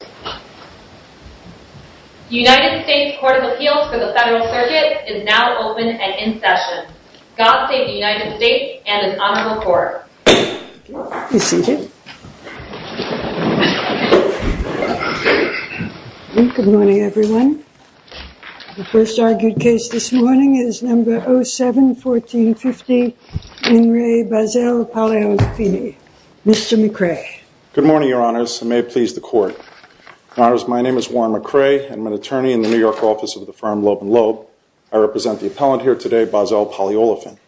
The United States Court of Appeals for the Federal Circuit is now open and in session. God Save the United States and an Honorable Court. You may be seated. Good morning everyone. The first argued case this morning is number 07-1450 In Re Basell Poliolefine. Mr. McRae. Good morning, Your Honors, and may it please the Court. Your Honors, my name is Warren McRae, and I'm an attorney in the New York office of the firm Loeb & Loeb. I represent the appellant here today, Basell Poliolefine.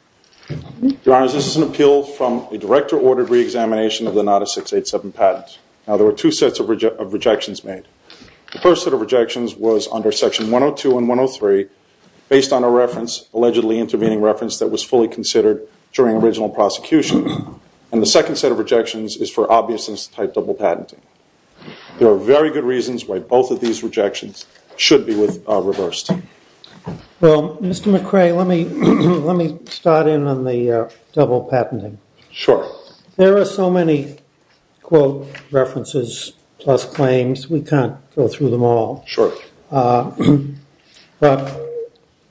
Your Honors, this is an appeal from a director-ordered re-examination of the NADA 687 patent. Now, there were two sets of rejections made. The first set of rejections was under section 102 and 103 based on a reference, allegedly intervening reference that was fully considered during original prosecution. And the second set of rejections is for obviousness type double patenting. There are very good reasons why both of these rejections should be reversed. Well, Mr. McRae, let me start in on the double patenting. Sure. There are so many quote references plus claims, we can't go through them all. Sure. But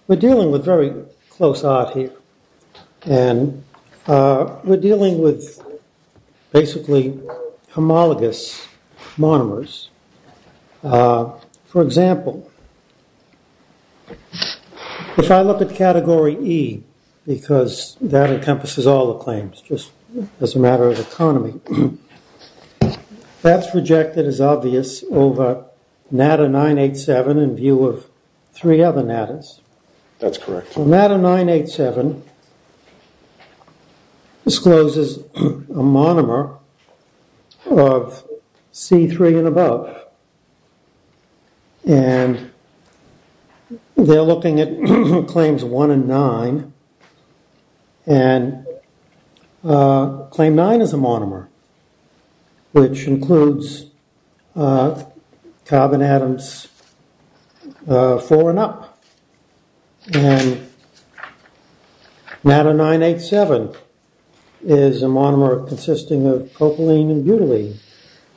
we're dealing with very close art here, and we're dealing with basically homologous monomers. For example, if I look at category E, because that encompasses all the claims just as a matter of economy, that's rejected as obvious over NADA 987 in view of three other NADAs. That's correct. So NADA 987 discloses a monomer of C3 and above. And they're looking at claims one and nine, and claim nine is a monomer, which includes carbon atoms four and up. And NADA 987 is a monomer consisting of propylene and butylene.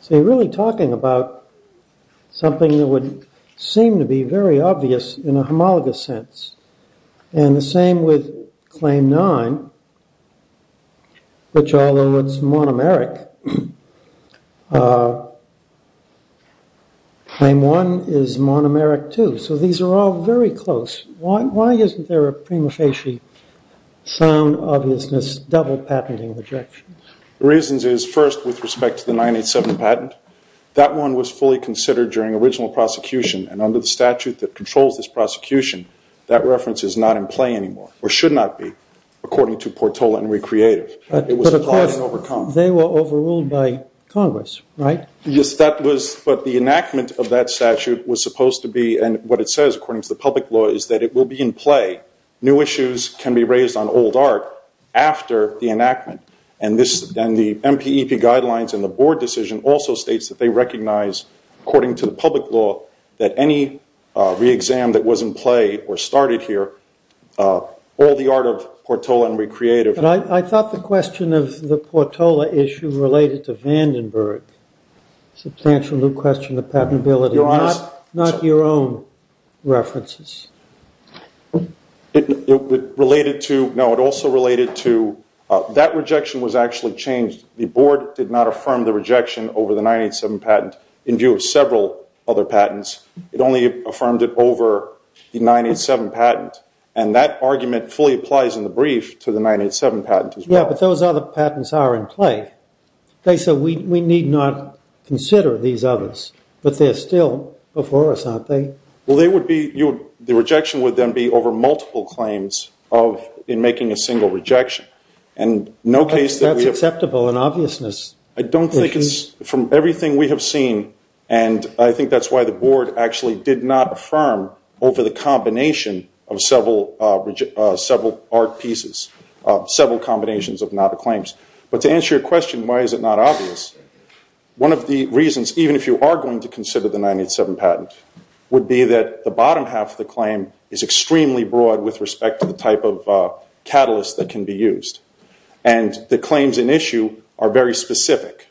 So you're really talking about something that would seem to be very obvious in a homologous sense. And the same with claim nine, which, although it's monomeric, claim one is monomeric too. So these are all very close. Why isn't there a prima facie sound obviousness double patenting rejection? The reasons is, first, with respect to the 987 patent, that one was fully considered during original prosecution, and under the statute that controls this prosecution, that reference is not in play anymore, or should not be according to Portola and Recreative. But of course, they were overruled by Congress, right? Yes, that was, but the enactment of that statute was supposed to be, and what it says according to the public law is that it will be in play. New issues can be raised on old art after the enactment. And the MPEP guidelines and the board decision also states that they recognize, according to the public law, that any re-exam that was in play or started here, all the art of Portola and Recreative. But I thought the question of the Portola issue related to Vandenberg, a substantial new question of patentability, not your own references. It related to, no, it also related to, that rejection was actually changed. The board did not affirm the rejection over the 987 patent in view of several other patents. It only affirmed it over the 987 patent. And that argument fully applies in the brief to the 987 patent as well. Yeah, but those other patents are in play. Okay, so we need not consider these others, but they're still before us, aren't they? Well, they would be, the rejection would then be over multiple claims in making a single rejection. That's acceptable in obviousness. I don't think it's, from everything we have seen, and I think that's why the board actually did not affirm over the combination of several art pieces, several combinations of NADA claims. But to answer your question, why is it not obvious, one of the reasons, even if you are going to consider the 987 patent, would be that the bottom half of the claim is extremely broad with respect to the type of catalyst that can be used. And the claims in issue are very specific.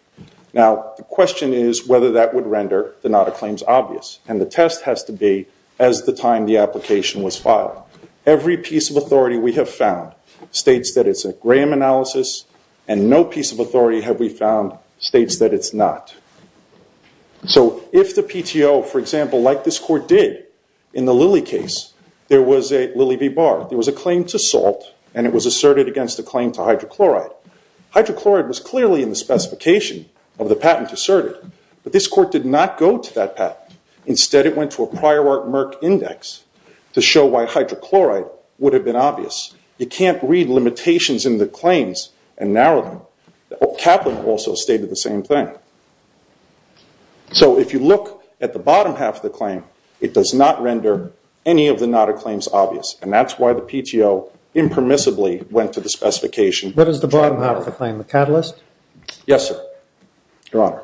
Now, the question is whether that would render the NADA claims obvious. And the test has to be as the time the application was filed. Every piece of authority we have found states that it's a Graham analysis, and no piece of authority have we found states that it's not. So if the PTO, for example, like this court did in the Lilly case, there was a Lilly v. Barr. There was a claim to salt, and it was asserted against a claim to hydrochloride. Hydrochloride was clearly in the specification of the patent asserted, but this court did not go to that patent. Instead, it went to a prior art Merck index to show why hydrochloride would have been obvious. You can't read limitations in the claims and narrow them. Kaplan also stated the same thing. So if you look at the bottom half of the claim, it does not render any of the NADA claims obvious, and that's why the PTO impermissibly went to the specification. What is the bottom half of the claim, the catalyst? Yes, sir, Your Honor.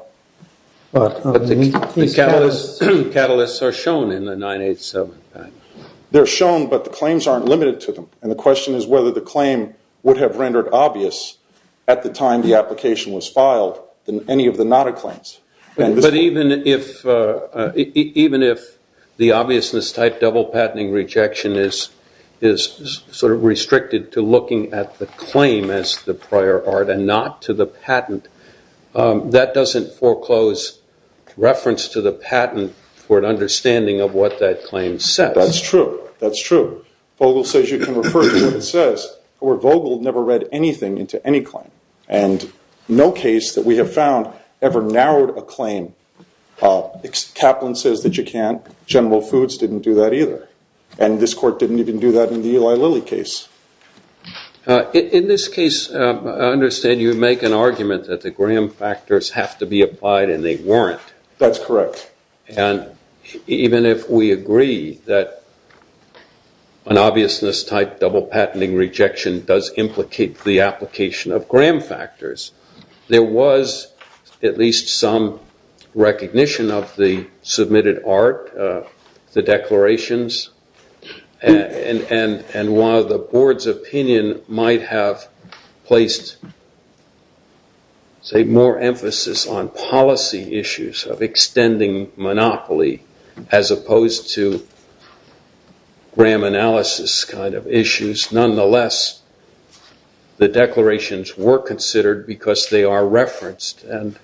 But the catalysts are shown in the 987 patent. They're shown, but the claims aren't limited to them, and the question is whether the claim would have rendered obvious at the time the application was filed than any of the NADA claims. But even if the obviousness type double patenting rejection is sort of restricted to looking at the claim as the prior art and not to the patent, that doesn't foreclose reference to the patent for an understanding of what that claim says. That's true. That's true. Vogel says you can refer to what it says, but Vogel never read anything into any claim, and no case that we have found ever narrowed a claim. Kaplan says that you can't. General Foods didn't do that either, and this court didn't even do that in the Eli Lilly case. In this case, I understand you make an argument that the Graham factors have to be applied and they weren't. That's correct. And even if we agree that an obviousness type double patenting rejection does implicate the application of Graham factors, there was at least some recognition of the submitted art, the declarations, and while the board's opinion might have placed, say, more emphasis on policy issues of extending monopoly as opposed to Graham analysis kind of issues, nonetheless, the declarations were considered because they are referenced. Isn't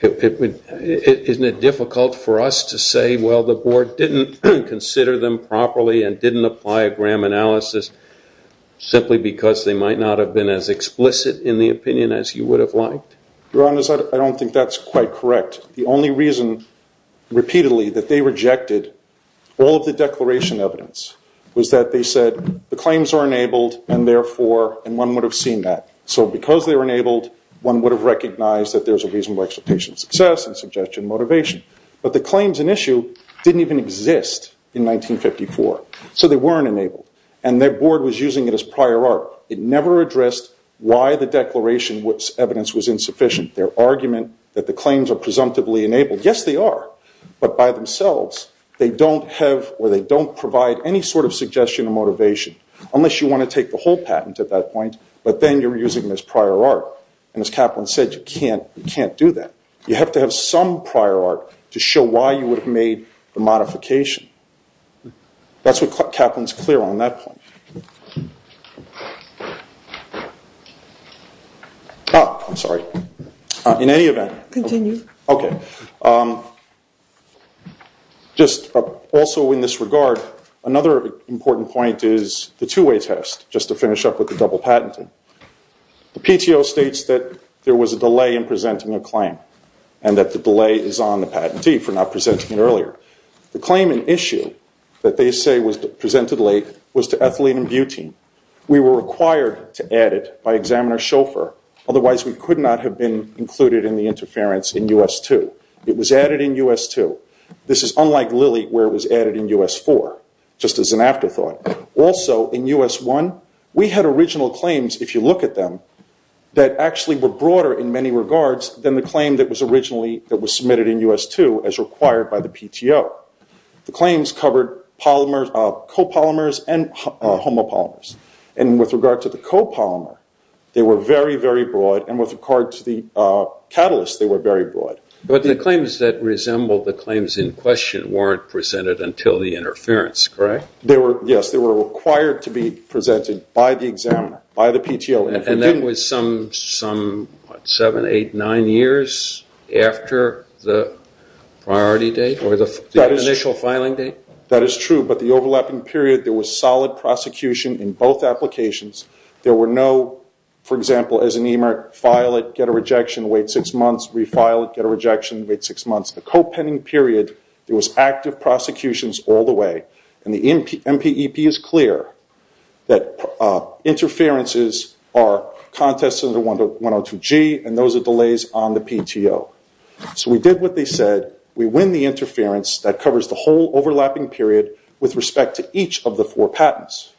it difficult for us to say, well, the board didn't consider them properly and didn't apply a Graham analysis simply because they might not have been as explicit in the opinion as you would have liked? Your Honor, I don't think that's quite correct. The only reason, repeatedly, that they rejected all of the declaration evidence was that they said the claims are enabled and therefore, and one would have seen that. So because they were enabled, one would have recognized that there's a reasonable expectation of success and suggestion of motivation. But the claims in issue didn't even exist in 1954. So they weren't enabled. And their board was using it as prior art. It never addressed why the declaration evidence was insufficient. Their argument that the claims are presumptively enabled, yes, they are. But by themselves, they don't have or they don't provide any sort of suggestion of motivation unless you want to take the whole patent at that point. But then you're using them as prior art. And as Kaplan said, you can't do that. You have to have some prior art to show why you would have made the modification. That's what kept Kaplan's clear on that point. I'm sorry. In any event. Continue. Okay. Just also in this regard, another important point is the two-way test, just to finish up with the double patenting. The PTO states that there was a delay in presenting a claim and that the delay is on the patentee for not presenting it earlier. The claim in issue that they say was presented late was to Ethylene and Butene. We were required to add it by Examiner Shoffer. Otherwise, we could not have been included in the interference in U.S. 2. It was added in U.S. 2. This is unlike Lilly where it was added in U.S. 4, just as an afterthought. Also, in U.S. 1, we had original claims, if you look at them, that actually were broader in many regards than the claim that was originally submitted in U.S. 2 as required by the PTO. The claims covered copolymers and homopolymers. With regard to the copolymer, they were very, very broad. With regard to the catalyst, they were very broad. But the claims that resembled the claims in question weren't presented until the interference, correct? Yes. They were required to be presented by the Examiner, by the PTO. That was some seven, eight, nine years after the priority date or the initial filing date? That is true. But the overlapping period, there was solid prosecution in both applications. There were no, for example, as an eMERG, file it, get a rejection, wait six months, refile it, get a rejection, wait six months. The co-pending period, there was active prosecutions all the way. The MPEP is clear that interferences are contested under 102G, and those are delays on the PTO. So we did what they said. We win the interference. That covers the whole overlapping period with respect to each of the four patents.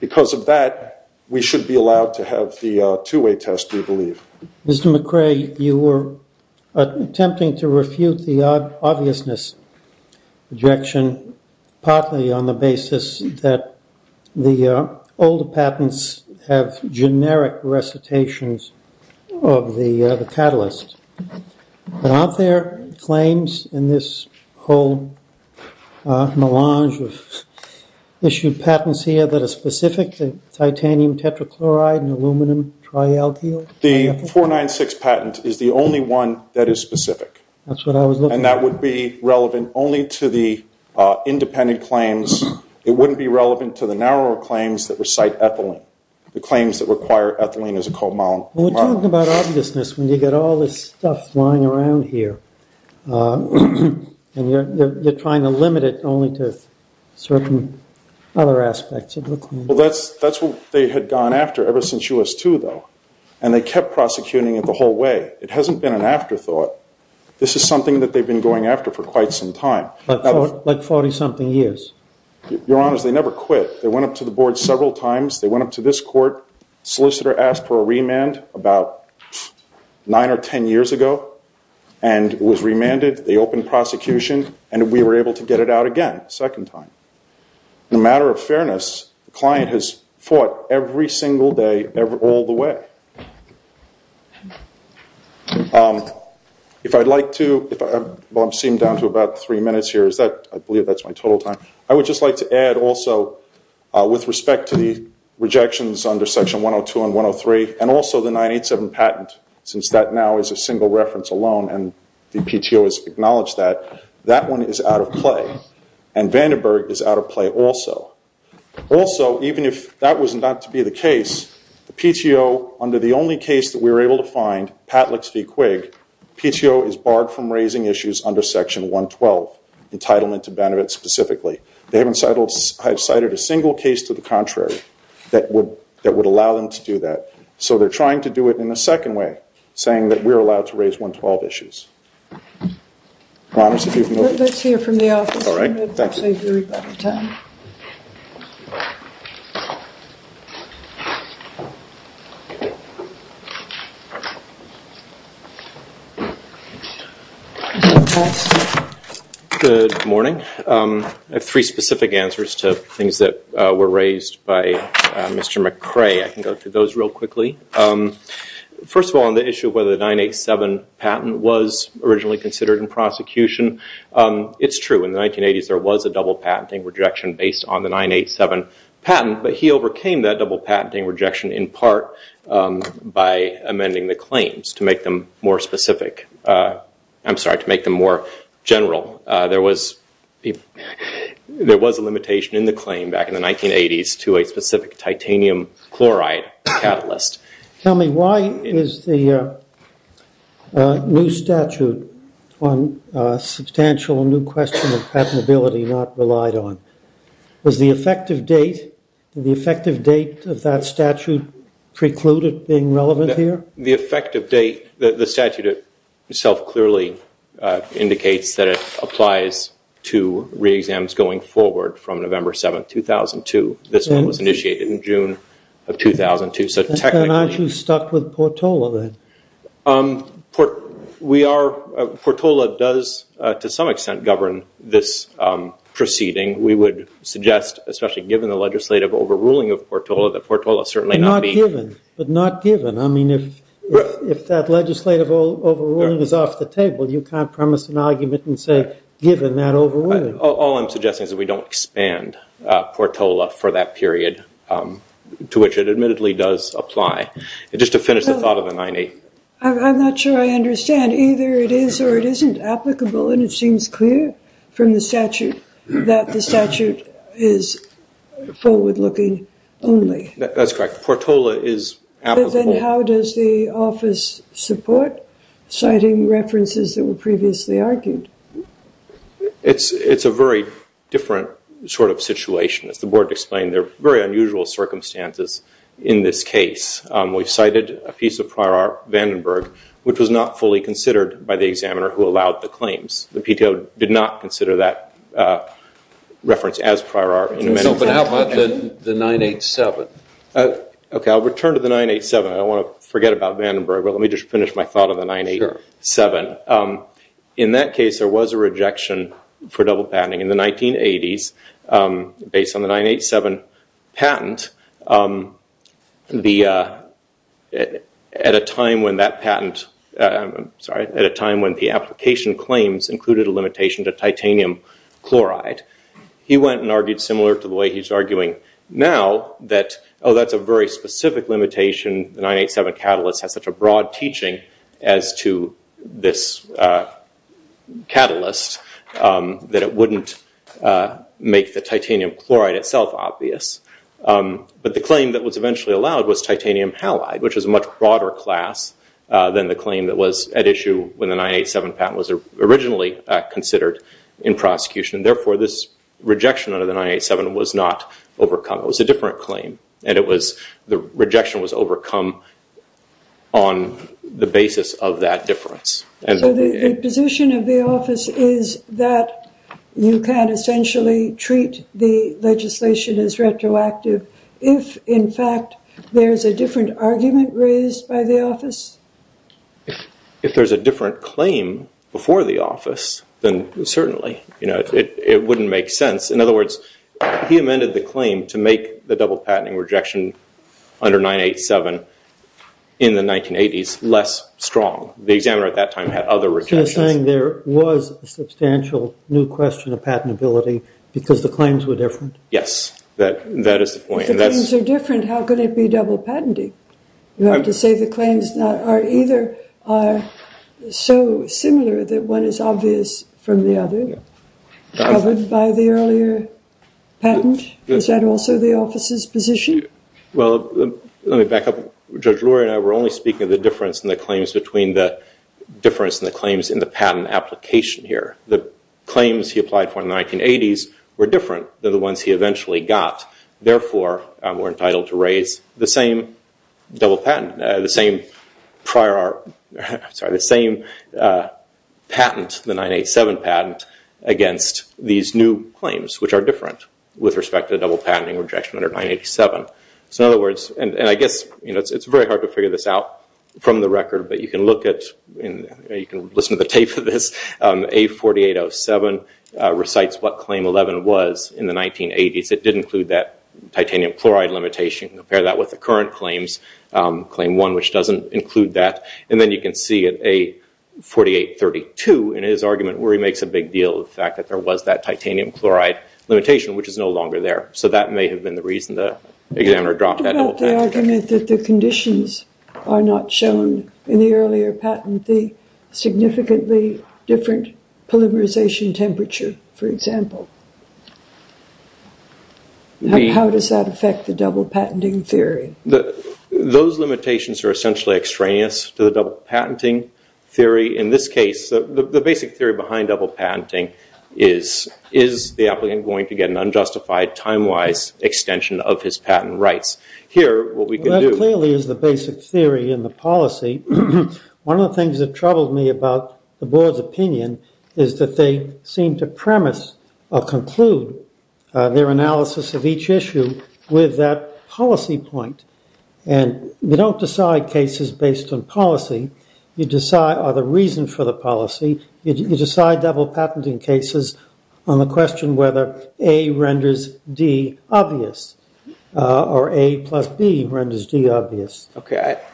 Because of that, we should be allowed to have the two-way test, we believe. Mr. McRae, you were attempting to refute the obviousness rejection, partly on the basis that the older patents have generic recitations of the catalyst. Aren't there claims in this whole melange of issued patents here that are specific to titanium tetrachloride and aluminum tri-alkyl? The 496 patent is the only one that is specific. That's what I was looking for. And that would be relevant only to the independent claims. It wouldn't be relevant to the narrower claims that recite ethylene, the claims that require ethylene as a co-molecule. Well, we're talking about obviousness when you've got all this stuff lying around here, and you're trying to limit it only to certain other aspects of the claim. Well, that's what they had gone after ever since US-2, though, and they kept prosecuting it the whole way. It hasn't been an afterthought. This is something that they've been going after for quite some time. Like 40-something years. Your Honors, they never quit. They went up to the board several times. They went up to this court, solicitor asked for a remand about nine or ten years ago, and it was remanded. They opened prosecution, and we were able to get it out again a second time. In a matter of fairness, the client has fought every single day all the way. If I'd like to, well, I'm seeing down to about three minutes here. I believe that's my total time. I would just like to add also with respect to the rejections under Section 102 and 103 and also the 987 patent, since that now is a single reference alone and the PTO has acknowledged that, that one is out of play, and Vandenberg is out of play also. Also, even if that was not to be the case, the PTO, under the only case that we were able to find, Patlix v. Quigg, PTO is barred from raising issues under Section 112, entitlement to benefit specifically. They haven't cited a single case to the contrary that would allow them to do that. So they're trying to do it in a second way, saying that we're allowed to raise 112 issues. Let's hear from the office. Good morning. I have three specific answers to things that were raised by Mr. McRae. I can go through those real quickly. First of all, on the issue of whether the 987 patent was originally considered in prosecution, it's true. In the 1980s there was a double patenting rejection based on the 987 patent, but he overcame that double patenting rejection in part by amending the claims to make them more specific. I'm sorry, to make them more general. There was a limitation in the claim back in the 1980s to a specific titanium chloride catalyst. Tell me, why is the new statute on substantial new question of patentability not relied on? Was the effective date of that statute precluded being relevant here? The effective date, the statute itself clearly indicates that it applies to re-exams going forward from November 7, 2002. This one was initiated in June of 2002. Aren't you stuck with Portola then? Portola does, to some extent, govern this proceeding. We would suggest, especially given the legislative overruling of Portola, that Portola certainly not be- But not given. I mean, if that legislative overruling is off the table, you can't premise an argument and say, given that overruling. All I'm suggesting is that we don't expand Portola for that period, to which it admittedly does apply. Just to finish the thought of the 90- I'm not sure I understand. Either it is or it isn't applicable, and it seems clear from the statute that the statute is forward-looking only. That's correct. Portola is applicable. Then how does the office support citing references that were previously argued? It's a very different sort of situation. As the board explained, there are very unusual circumstances in this case. We've cited a piece of prior art, Vandenberg, which was not fully considered by the examiner who allowed the claims. The PTO did not consider that reference as prior art. But how about the 987? Okay, I'll return to the 987. I don't want to forget about Vandenberg, but let me just finish my thought on the 987. In that case, there was a rejection for double patenting. In the 1980s, based on the 987 patent, at a time when the application claims included a limitation to titanium chloride, he went and argued similar to the way he's arguing now that, oh, that's a very specific limitation. The 987 catalyst has such a broad teaching as to this catalyst that it wouldn't make the titanium chloride itself obvious. But the claim that was eventually allowed was titanium halide, which was a much broader class than the claim that was at issue when the 987 patent was originally considered in prosecution. Therefore, this rejection under the 987 was not overcome. It was a different claim. The rejection was overcome on the basis of that difference. So the position of the office is that you can't essentially treat the legislation as retroactive if, in fact, there's a different argument raised by the office? If there's a different claim before the office, then certainly. It wouldn't make sense. In other words, he amended the claim to make the double patenting rejection under 987 in the 1980s less strong. The examiner at that time had other rejections. So you're saying there was a substantial new question of patentability because the claims were different? Yes, that is the point. If the claims are different, how could it be double patenting? You have to say the claims are either so similar that one is obvious from the other, covered by the earlier patent. Is that also the office's position? Well, let me back up. Judge Lurie and I were only speaking of the difference in the claims in the patent application here. The claims he applied for in the 1980s were different than the ones he eventually got. Therefore, we're entitled to raise the same patent, the 987 patent, against these new claims, which are different with respect to the double patenting rejection under 987. I guess it's very hard to figure this out from the record, but you can listen to the tape of this. A4807 recites what Claim 11 was in the 1980s. It did include that titanium chloride limitation. Compare that with the current claims, Claim 1, which doesn't include that. And then you can see at A4832 in his argument where he makes a big deal of the fact that there was that titanium chloride limitation, which is no longer there. So that may have been the reason the examiner dropped that double patent. What about the argument that the conditions are not shown in the earlier patent? The significantly different polymerization temperature, for example. How does that affect the double patenting theory? Those limitations are essentially extraneous to the double patenting theory. In this case, the basic theory behind double patenting is, is the applicant going to get an unjustified, time-wise extension of his patent rights? Here, what we can do- Well, that clearly is the basic theory in the policy. One of the things that troubled me about the board's opinion is that they seem to premise or conclude their analysis of each issue with that policy point. And you don't decide cases based on policy. You decide the reason for the policy. You decide double patenting cases on the question whether A renders D obvious or A plus B renders D obvious.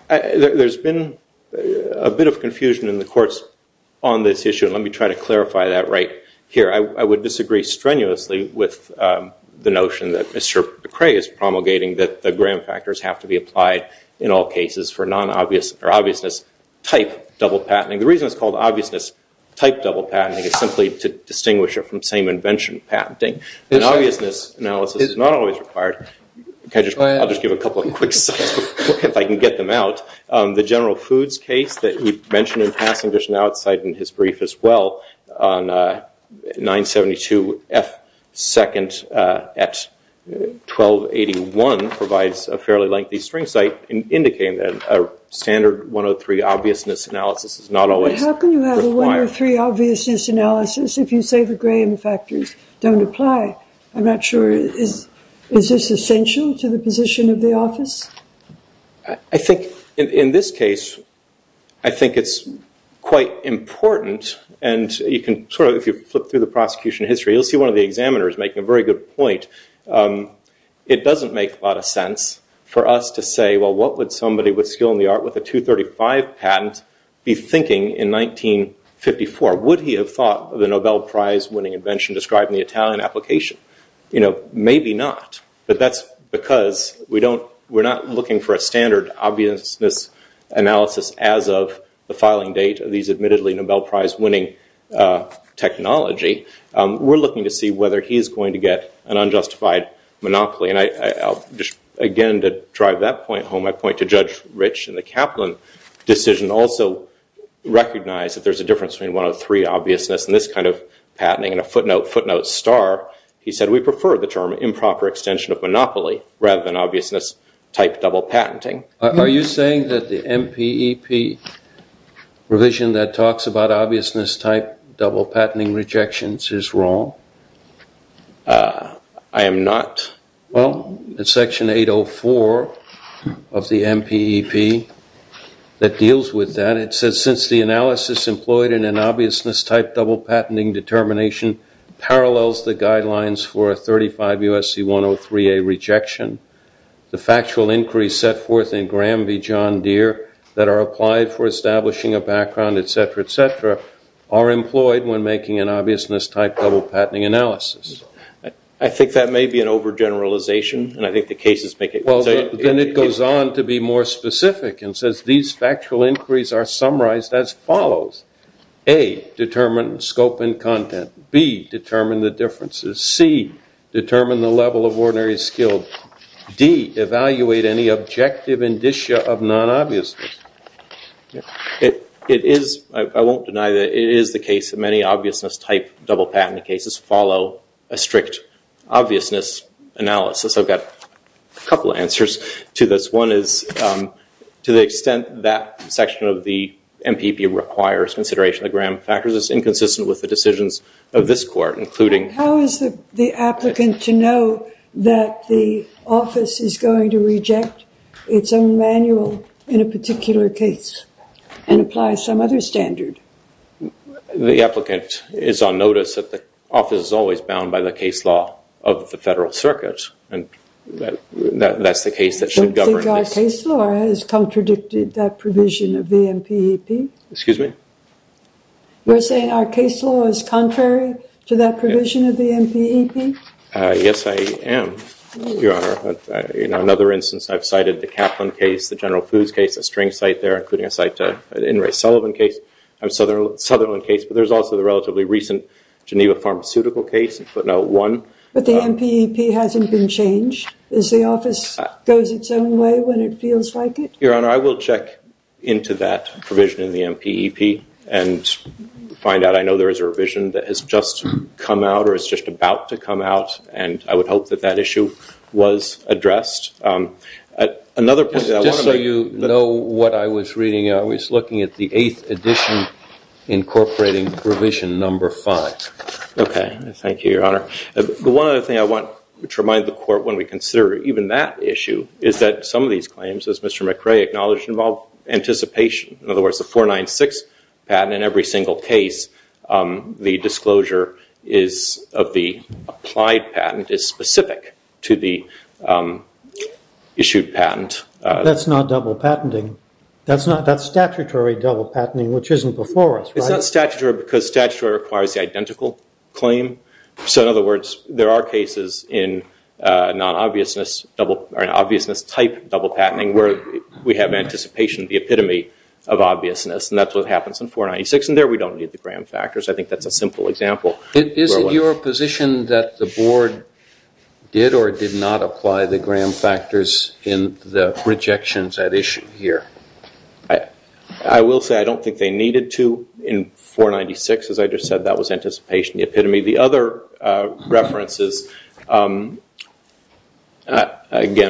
There's been a bit of confusion in the courts on this issue. Let me try to clarify that right here. I would disagree strenuously with the notion that Mr. McCrae is promulgating that the gram factors have to be applied in all cases for non-obvious or obviousness type double patenting. The reason it's called obviousness type double patenting is simply to distinguish it from same invention patenting. And obviousness analysis is not always required. I'll just give a couple of quick sites if I can get them out. The General Foods case that you mentioned in passing just now, it's cited in his brief as well, on 972F2nd at 1281 provides a fairly lengthy string site indicating that a standard 103 obviousness analysis is not always required. But how can you have a 103 obviousness analysis if you say the gram factors don't apply? I'm not sure. Is this essential to the position of the office? I think in this case, I think it's quite important. And you can sort of if you flip through the prosecution history, you'll see one of the examiners making a very good point. It doesn't make a lot of sense for us to say, well, what would somebody with skill in the art with a 235 patent be thinking in 1954? Would he have thought of the Nobel Prize winning invention described in the Italian application? You know, maybe not. But that's because we're not looking for a standard obviousness analysis as of the filing date of these admittedly Nobel Prize winning technology. We're looking to see whether he's going to get an unjustified monopoly. Again, to drive that point home, I point to Judge Rich and the Kaplan decision also recognize that there's a difference between 103 obviousness and this kind of patenting and a footnote footnote star. He said we prefer the term improper extension of monopoly rather than obviousness type double patenting. Are you saying that the MPEP revision that talks about obviousness type double patenting rejections is wrong? I am not. Well, it's section 804 of the MPEP that deals with that. It says since the analysis employed in an obviousness type double patenting determination parallels the guidelines for a 35 USC 103A rejection, the factual inquiry set forth in Graham v. John Deere that are applied for establishing a background, et cetera, et cetera, are employed when making an obviousness type double patenting analysis. I think that may be an overgeneralization, and I think the cases make it. Well, then it goes on to be more specific and says these factual inquiries are summarized as follows. A, determine scope and content. B, determine the differences. C, determine the level of ordinary skill. D, evaluate any objective indicia of non-obviousness. It is, I won't deny that it is the case that many obviousness type double patent cases follow a strict obviousness analysis. I've got a couple answers to this. One is to the extent that section of the MPEP requires consideration of the Graham factors is inconsistent with the decisions of this court, including- The applicant to know that the office is going to reject its own manual in a particular case and apply some other standard. The applicant is on notice that the office is always bound by the case law of the Federal Circuit, and that's the case that should govern this. Don't think our case law has contradicted that provision of the MPEP? Excuse me? You're saying our case law is contrary to that provision of the MPEP? Yes, I am, Your Honor. In another instance, I've cited the Kaplan case, the General Foods case, the String site there, including a site in Ray Sullivan case, Sutherland case, but there's also the relatively recent Geneva pharmaceutical case, but not one. But the MPEP hasn't been changed? Is the office goes its own way when it feels like it? Your Honor, I will check into that provision in the MPEP and find out. I know there is a revision that has just come out or is just about to come out, and I would hope that that issue was addressed. Just so you know what I was reading, I was looking at the eighth edition incorporating provision number five. Okay, thank you, Your Honor. Your Honor, the one other thing I want to remind the court when we consider even that issue is that some of these claims, as Mr. McRae acknowledged, involve anticipation. In other words, the 496 patent in every single case, the disclosure of the applied patent is specific to the issued patent. That's not double patenting. That's statutory double patenting, which isn't before us, right? That's not statutory because statutory requires the identical claim. So in other words, there are cases in non-obviousness type double patenting where we have anticipation, the epitome of obviousness, and that's what happens in 496, and there we don't need the Graham factors. I think that's a simple example. Is it your position that the board did or did not apply the Graham factors in the rejections at issue here? I will say I don't think they needed to in 496. As I just said, that was anticipation, the epitome. The other references, again,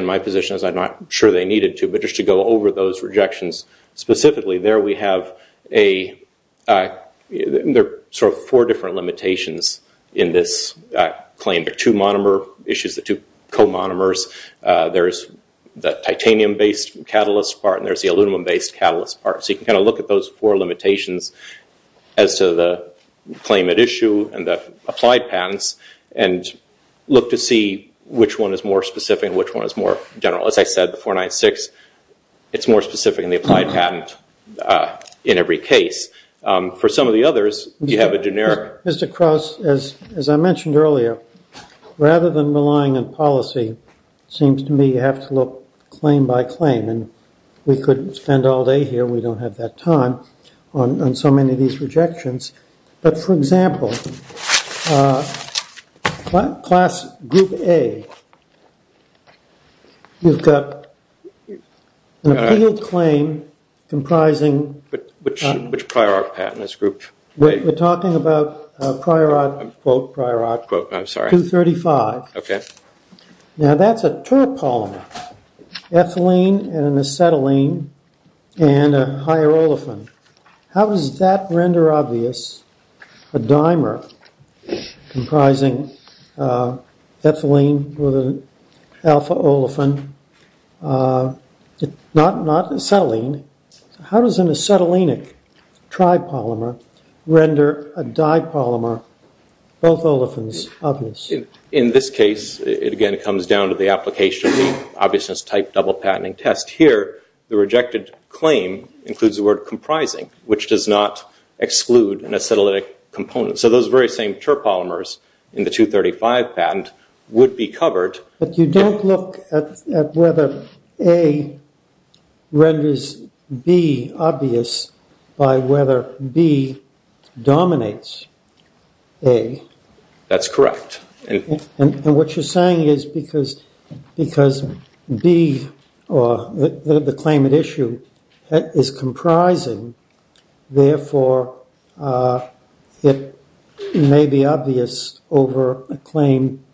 my position is I'm not sure they needed to, but just to go over those rejections specifically, there we have four different limitations in this claim. There are two monomer issues, the two co-monomers. There's the titanium-based catalyst part, and there's the aluminum-based catalyst part. So you can kind of look at those four limitations as to the claim at issue and the applied patents and look to see which one is more specific and which one is more general. As I said, the 496, it's more specific in the applied patent in every case. For some of the others, you have a generic. Mr. Krauss, as I mentioned earlier, rather than relying on policy, it seems to me you have to look claim by claim, and we could spend all day here. We don't have that time on so many of these rejections. But, for example, class group A, you've got an appealed claim comprising- Which prior art patent is group A? We're talking about prior art, quote prior art 235. Okay. Now that's a terp polymer, ethylene and an acetylene and a higher olefin. How does that render obvious a dimer comprising ethylene with an alpha olefin, not acetylene? How does an acetylenic tripolymer render a dipolymer, both olefins, obvious? In this case, it again comes down to the application of the obviousness type double patenting test. Here, the rejected claim includes the word comprising, which does not exclude an acetylenic component. So those very same terp polymers in the 235 patent would be covered. But you don't look at whether A renders B obvious by whether B dominates A. That's correct. And what you're saying is because B, or the claim at issue, is comprising, therefore it may be obvious over a claim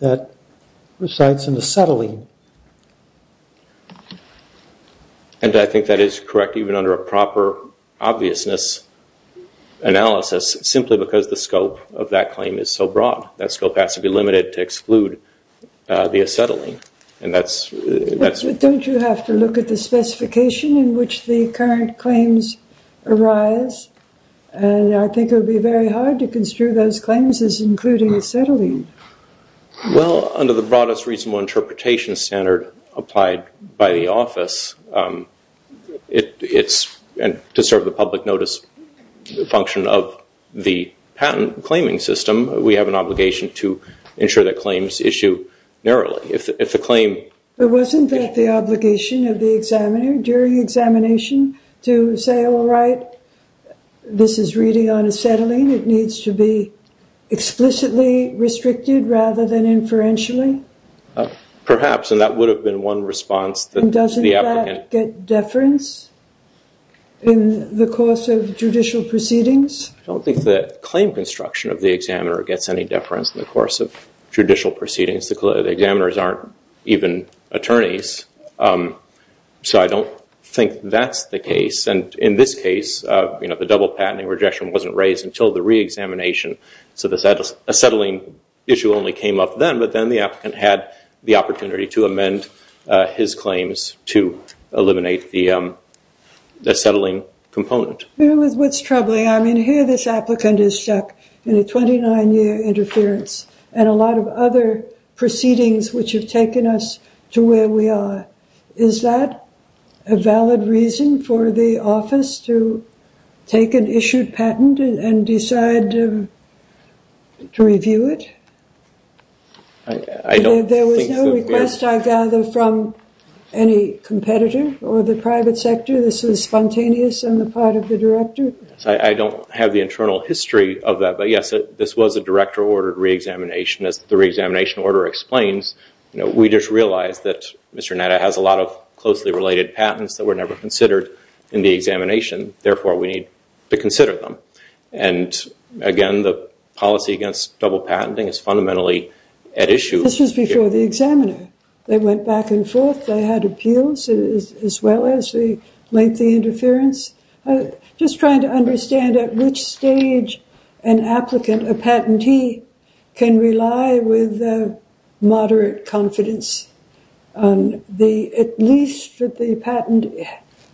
that resides in acetylene. And I think that is correct, even under a proper obviousness analysis, simply because the scope of that claim is so broad. That scope has to be limited to exclude the acetylene. Don't you have to look at the specification in which the current claims arise? And I think it would be very hard to construe those claims as including acetylene. Well, under the broadest reasonable interpretation standard applied by the office, to serve the public notice function of the patent claiming system, we have an obligation to ensure that claims issue narrowly. If the claim- But wasn't that the obligation of the examiner during examination to say, all right, this is really on acetylene. It needs to be explicitly restricted rather than inferentially? Perhaps, and that would have been one response. And doesn't that get deference in the course of judicial proceedings? I don't think the claim construction of the examiner gets any deference in the course of judicial proceedings. The examiners aren't even attorneys, so I don't think that's the case. And in this case, the double patenting rejection wasn't raised until the reexamination, so the acetylene issue only came up then, but then the applicant had the opportunity to amend his claims to eliminate the acetylene component. Here's what's troubling. I mean, here this applicant is stuck in a 29-year interference and a lot of other proceedings which have taken us to where we are. Is that a valid reason for the office to take an issued patent and decide to review it? There was no request, I gather, from any competitor or the private sector? This was spontaneous on the part of the director? I don't have the internal history of that, but, yes, this was a director-ordered reexamination. As the reexamination order explains, we just realized that Mr. Netta has a lot of closely related patents that were never considered in the examination. Therefore, we need to consider them. And, again, the policy against double patenting is fundamentally at issue. This was before the examiner. They went back and forth. They had appeals as well as the lengthy interference. Just trying to understand at which stage an applicant, a patentee, can rely with moderate confidence. At least that the patent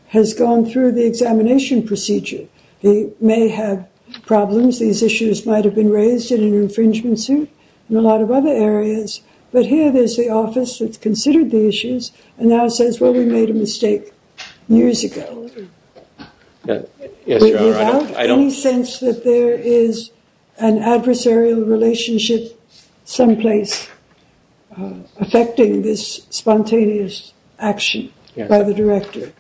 has gone through the examination procedure. They may have problems. These issues might have been raised in an infringement suit and a lot of other areas. But here there's the office that's considered the issues and now says, well, we made a mistake years ago. Without any sense that there is an adversarial relationship someplace affecting this spontaneous action by the director.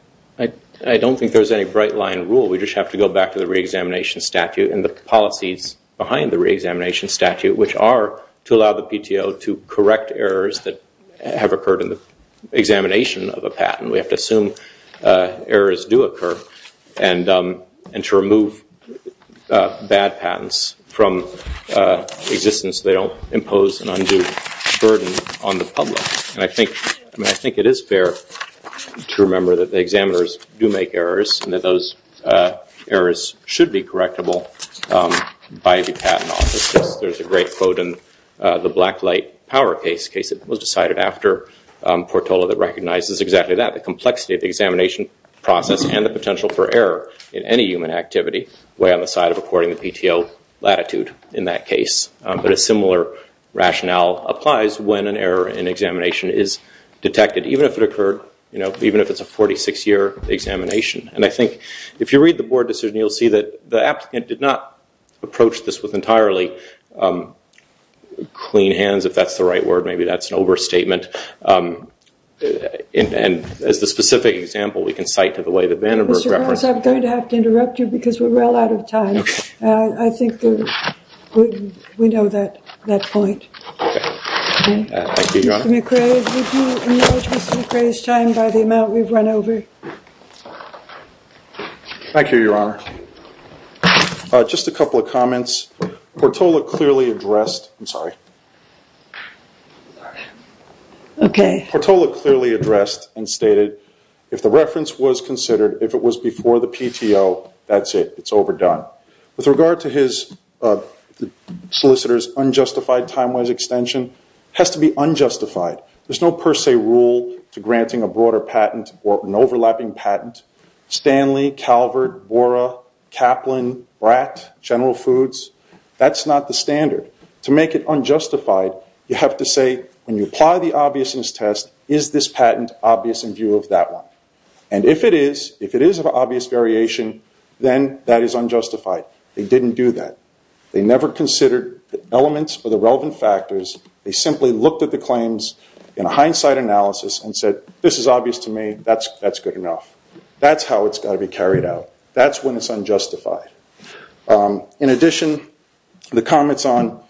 I don't think there's any bright-line rule. We just have to go back to the reexamination statute and the policies behind the reexamination statute, which are to allow the PTO to correct errors that have occurred in the examination of a patent. We have to assume errors do occur and to remove bad patents from existence. They don't impose an undue burden on the public. I think it is fair to remember that the examiners do make errors and that those errors should be correctable by the patent office. There's a great quote in the Black Light Power case that was decided after Portola that recognizes exactly that. The complexity of the examination process and the potential for error in any human activity way on the side of according to PTO latitude in that case. But a similar rationale applies when an error in examination is detected, even if it's a 46-year examination. And I think if you read the board decision, you'll see that the applicant did not approach this with entirely clean hands, if that's the right word. Maybe that's an overstatement. And as the specific example, we can cite to the way that Vandenberg referenced it. I'm going to have to interrupt you because we're well out of time. Thank you, Your Honor. Mr. McRae, would you acknowledge Mr. McRae's time by the amount we've run over? Thank you, Your Honor. Just a couple of comments. Portola clearly addressed and stated if the reference was considered, if it was before the PTO, that's it. It's overdone. With regard to his solicitor's unjustified time-wise extension, it has to be unjustified. There's no per se rule to granting a broader patent or an overlapping patent. Stanley, Calvert, Bora, Kaplan, Bratt, General Foods, that's not the standard. To make it unjustified, you have to say when you apply the obviousness test, is this patent obvious in view of that one? And if it is, if it is of obvious variation, then that is unjustified. They didn't do that. They never considered the elements or the relevant factors. They simply looked at the claims in hindsight analysis and said, this is obvious to me, that's good enough. That's how it's got to be carried out. That's when it's unjustified. In addition, the comments on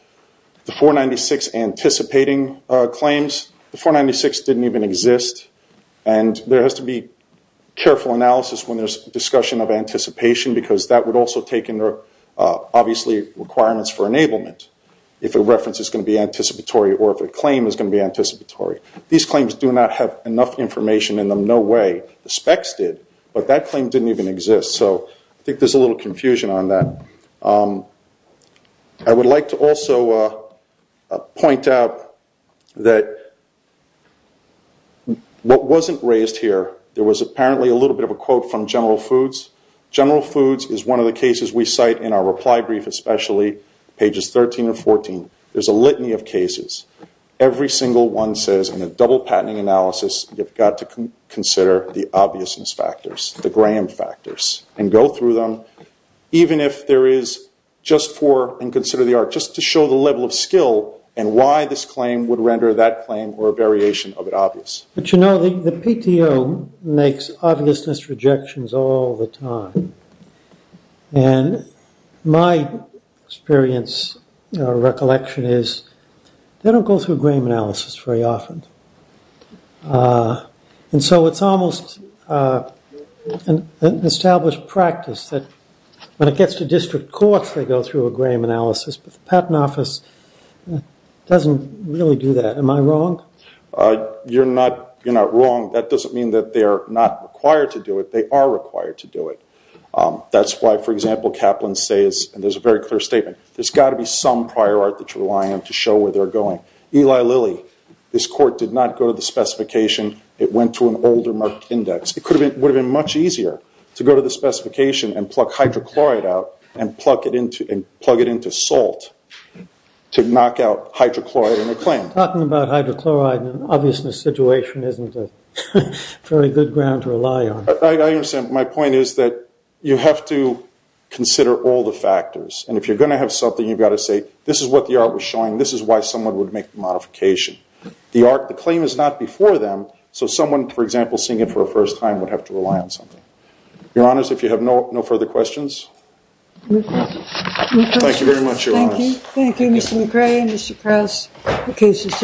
the 496 anticipating claims, the 496 didn't even exist. There has to be careful analysis when there's discussion of anticipation because that would also take into obviously requirements for enablement. If a reference is going to be anticipatory or if a claim is going to be anticipatory. These claims do not have enough information in them, no way. The specs did, but that claim didn't even exist. I think there's a little confusion on that. I would like to also point out that what wasn't raised here, there was apparently a little bit of a quote from General Foods. General Foods is one of the cases we cite in our reply brief, especially pages 13 or 14. There's a litany of cases. Every single one says in a double patenting analysis, you've got to consider the obviousness factors, the Graham factors, and go through them even if there is just for and consider the art, just to show the level of skill and why this claim would render that claim or a variation of it obvious. But, you know, the PTO makes obviousness rejections all the time. And my experience or recollection is they don't go through Graham analysis very often. And so it's almost an established practice that when it gets to district courts, they go through a Graham analysis, but the Patent Office doesn't really do that. Am I wrong? You're not wrong. That doesn't mean that they are not required to do it. They are required to do it. That's why, for example, Kaplan says, and there's a very clear statement, there's got to be some prior art that you're relying on to show where they're going. Eli Lilly, this court did not go to the specification. It went to an older Merck index. It would have been much easier to go to the specification and pluck hydrochloride out and plug it into salt to knock out hydrochloride in a claim. Talking about hydrochloride and an obviousness situation isn't a very good ground to rely on. I understand. My point is that you have to consider all the factors. And if you're going to have something, you've got to say, this is what the art was showing. This is why someone would make the modification. The claim is not before them, so someone, for example, seeing it for the first time, would have to rely on something. Your Honors, if you have no further questions. Thank you very much, Your Honors. Thank you. Thank you, Mr. McRae and Mr. Krause.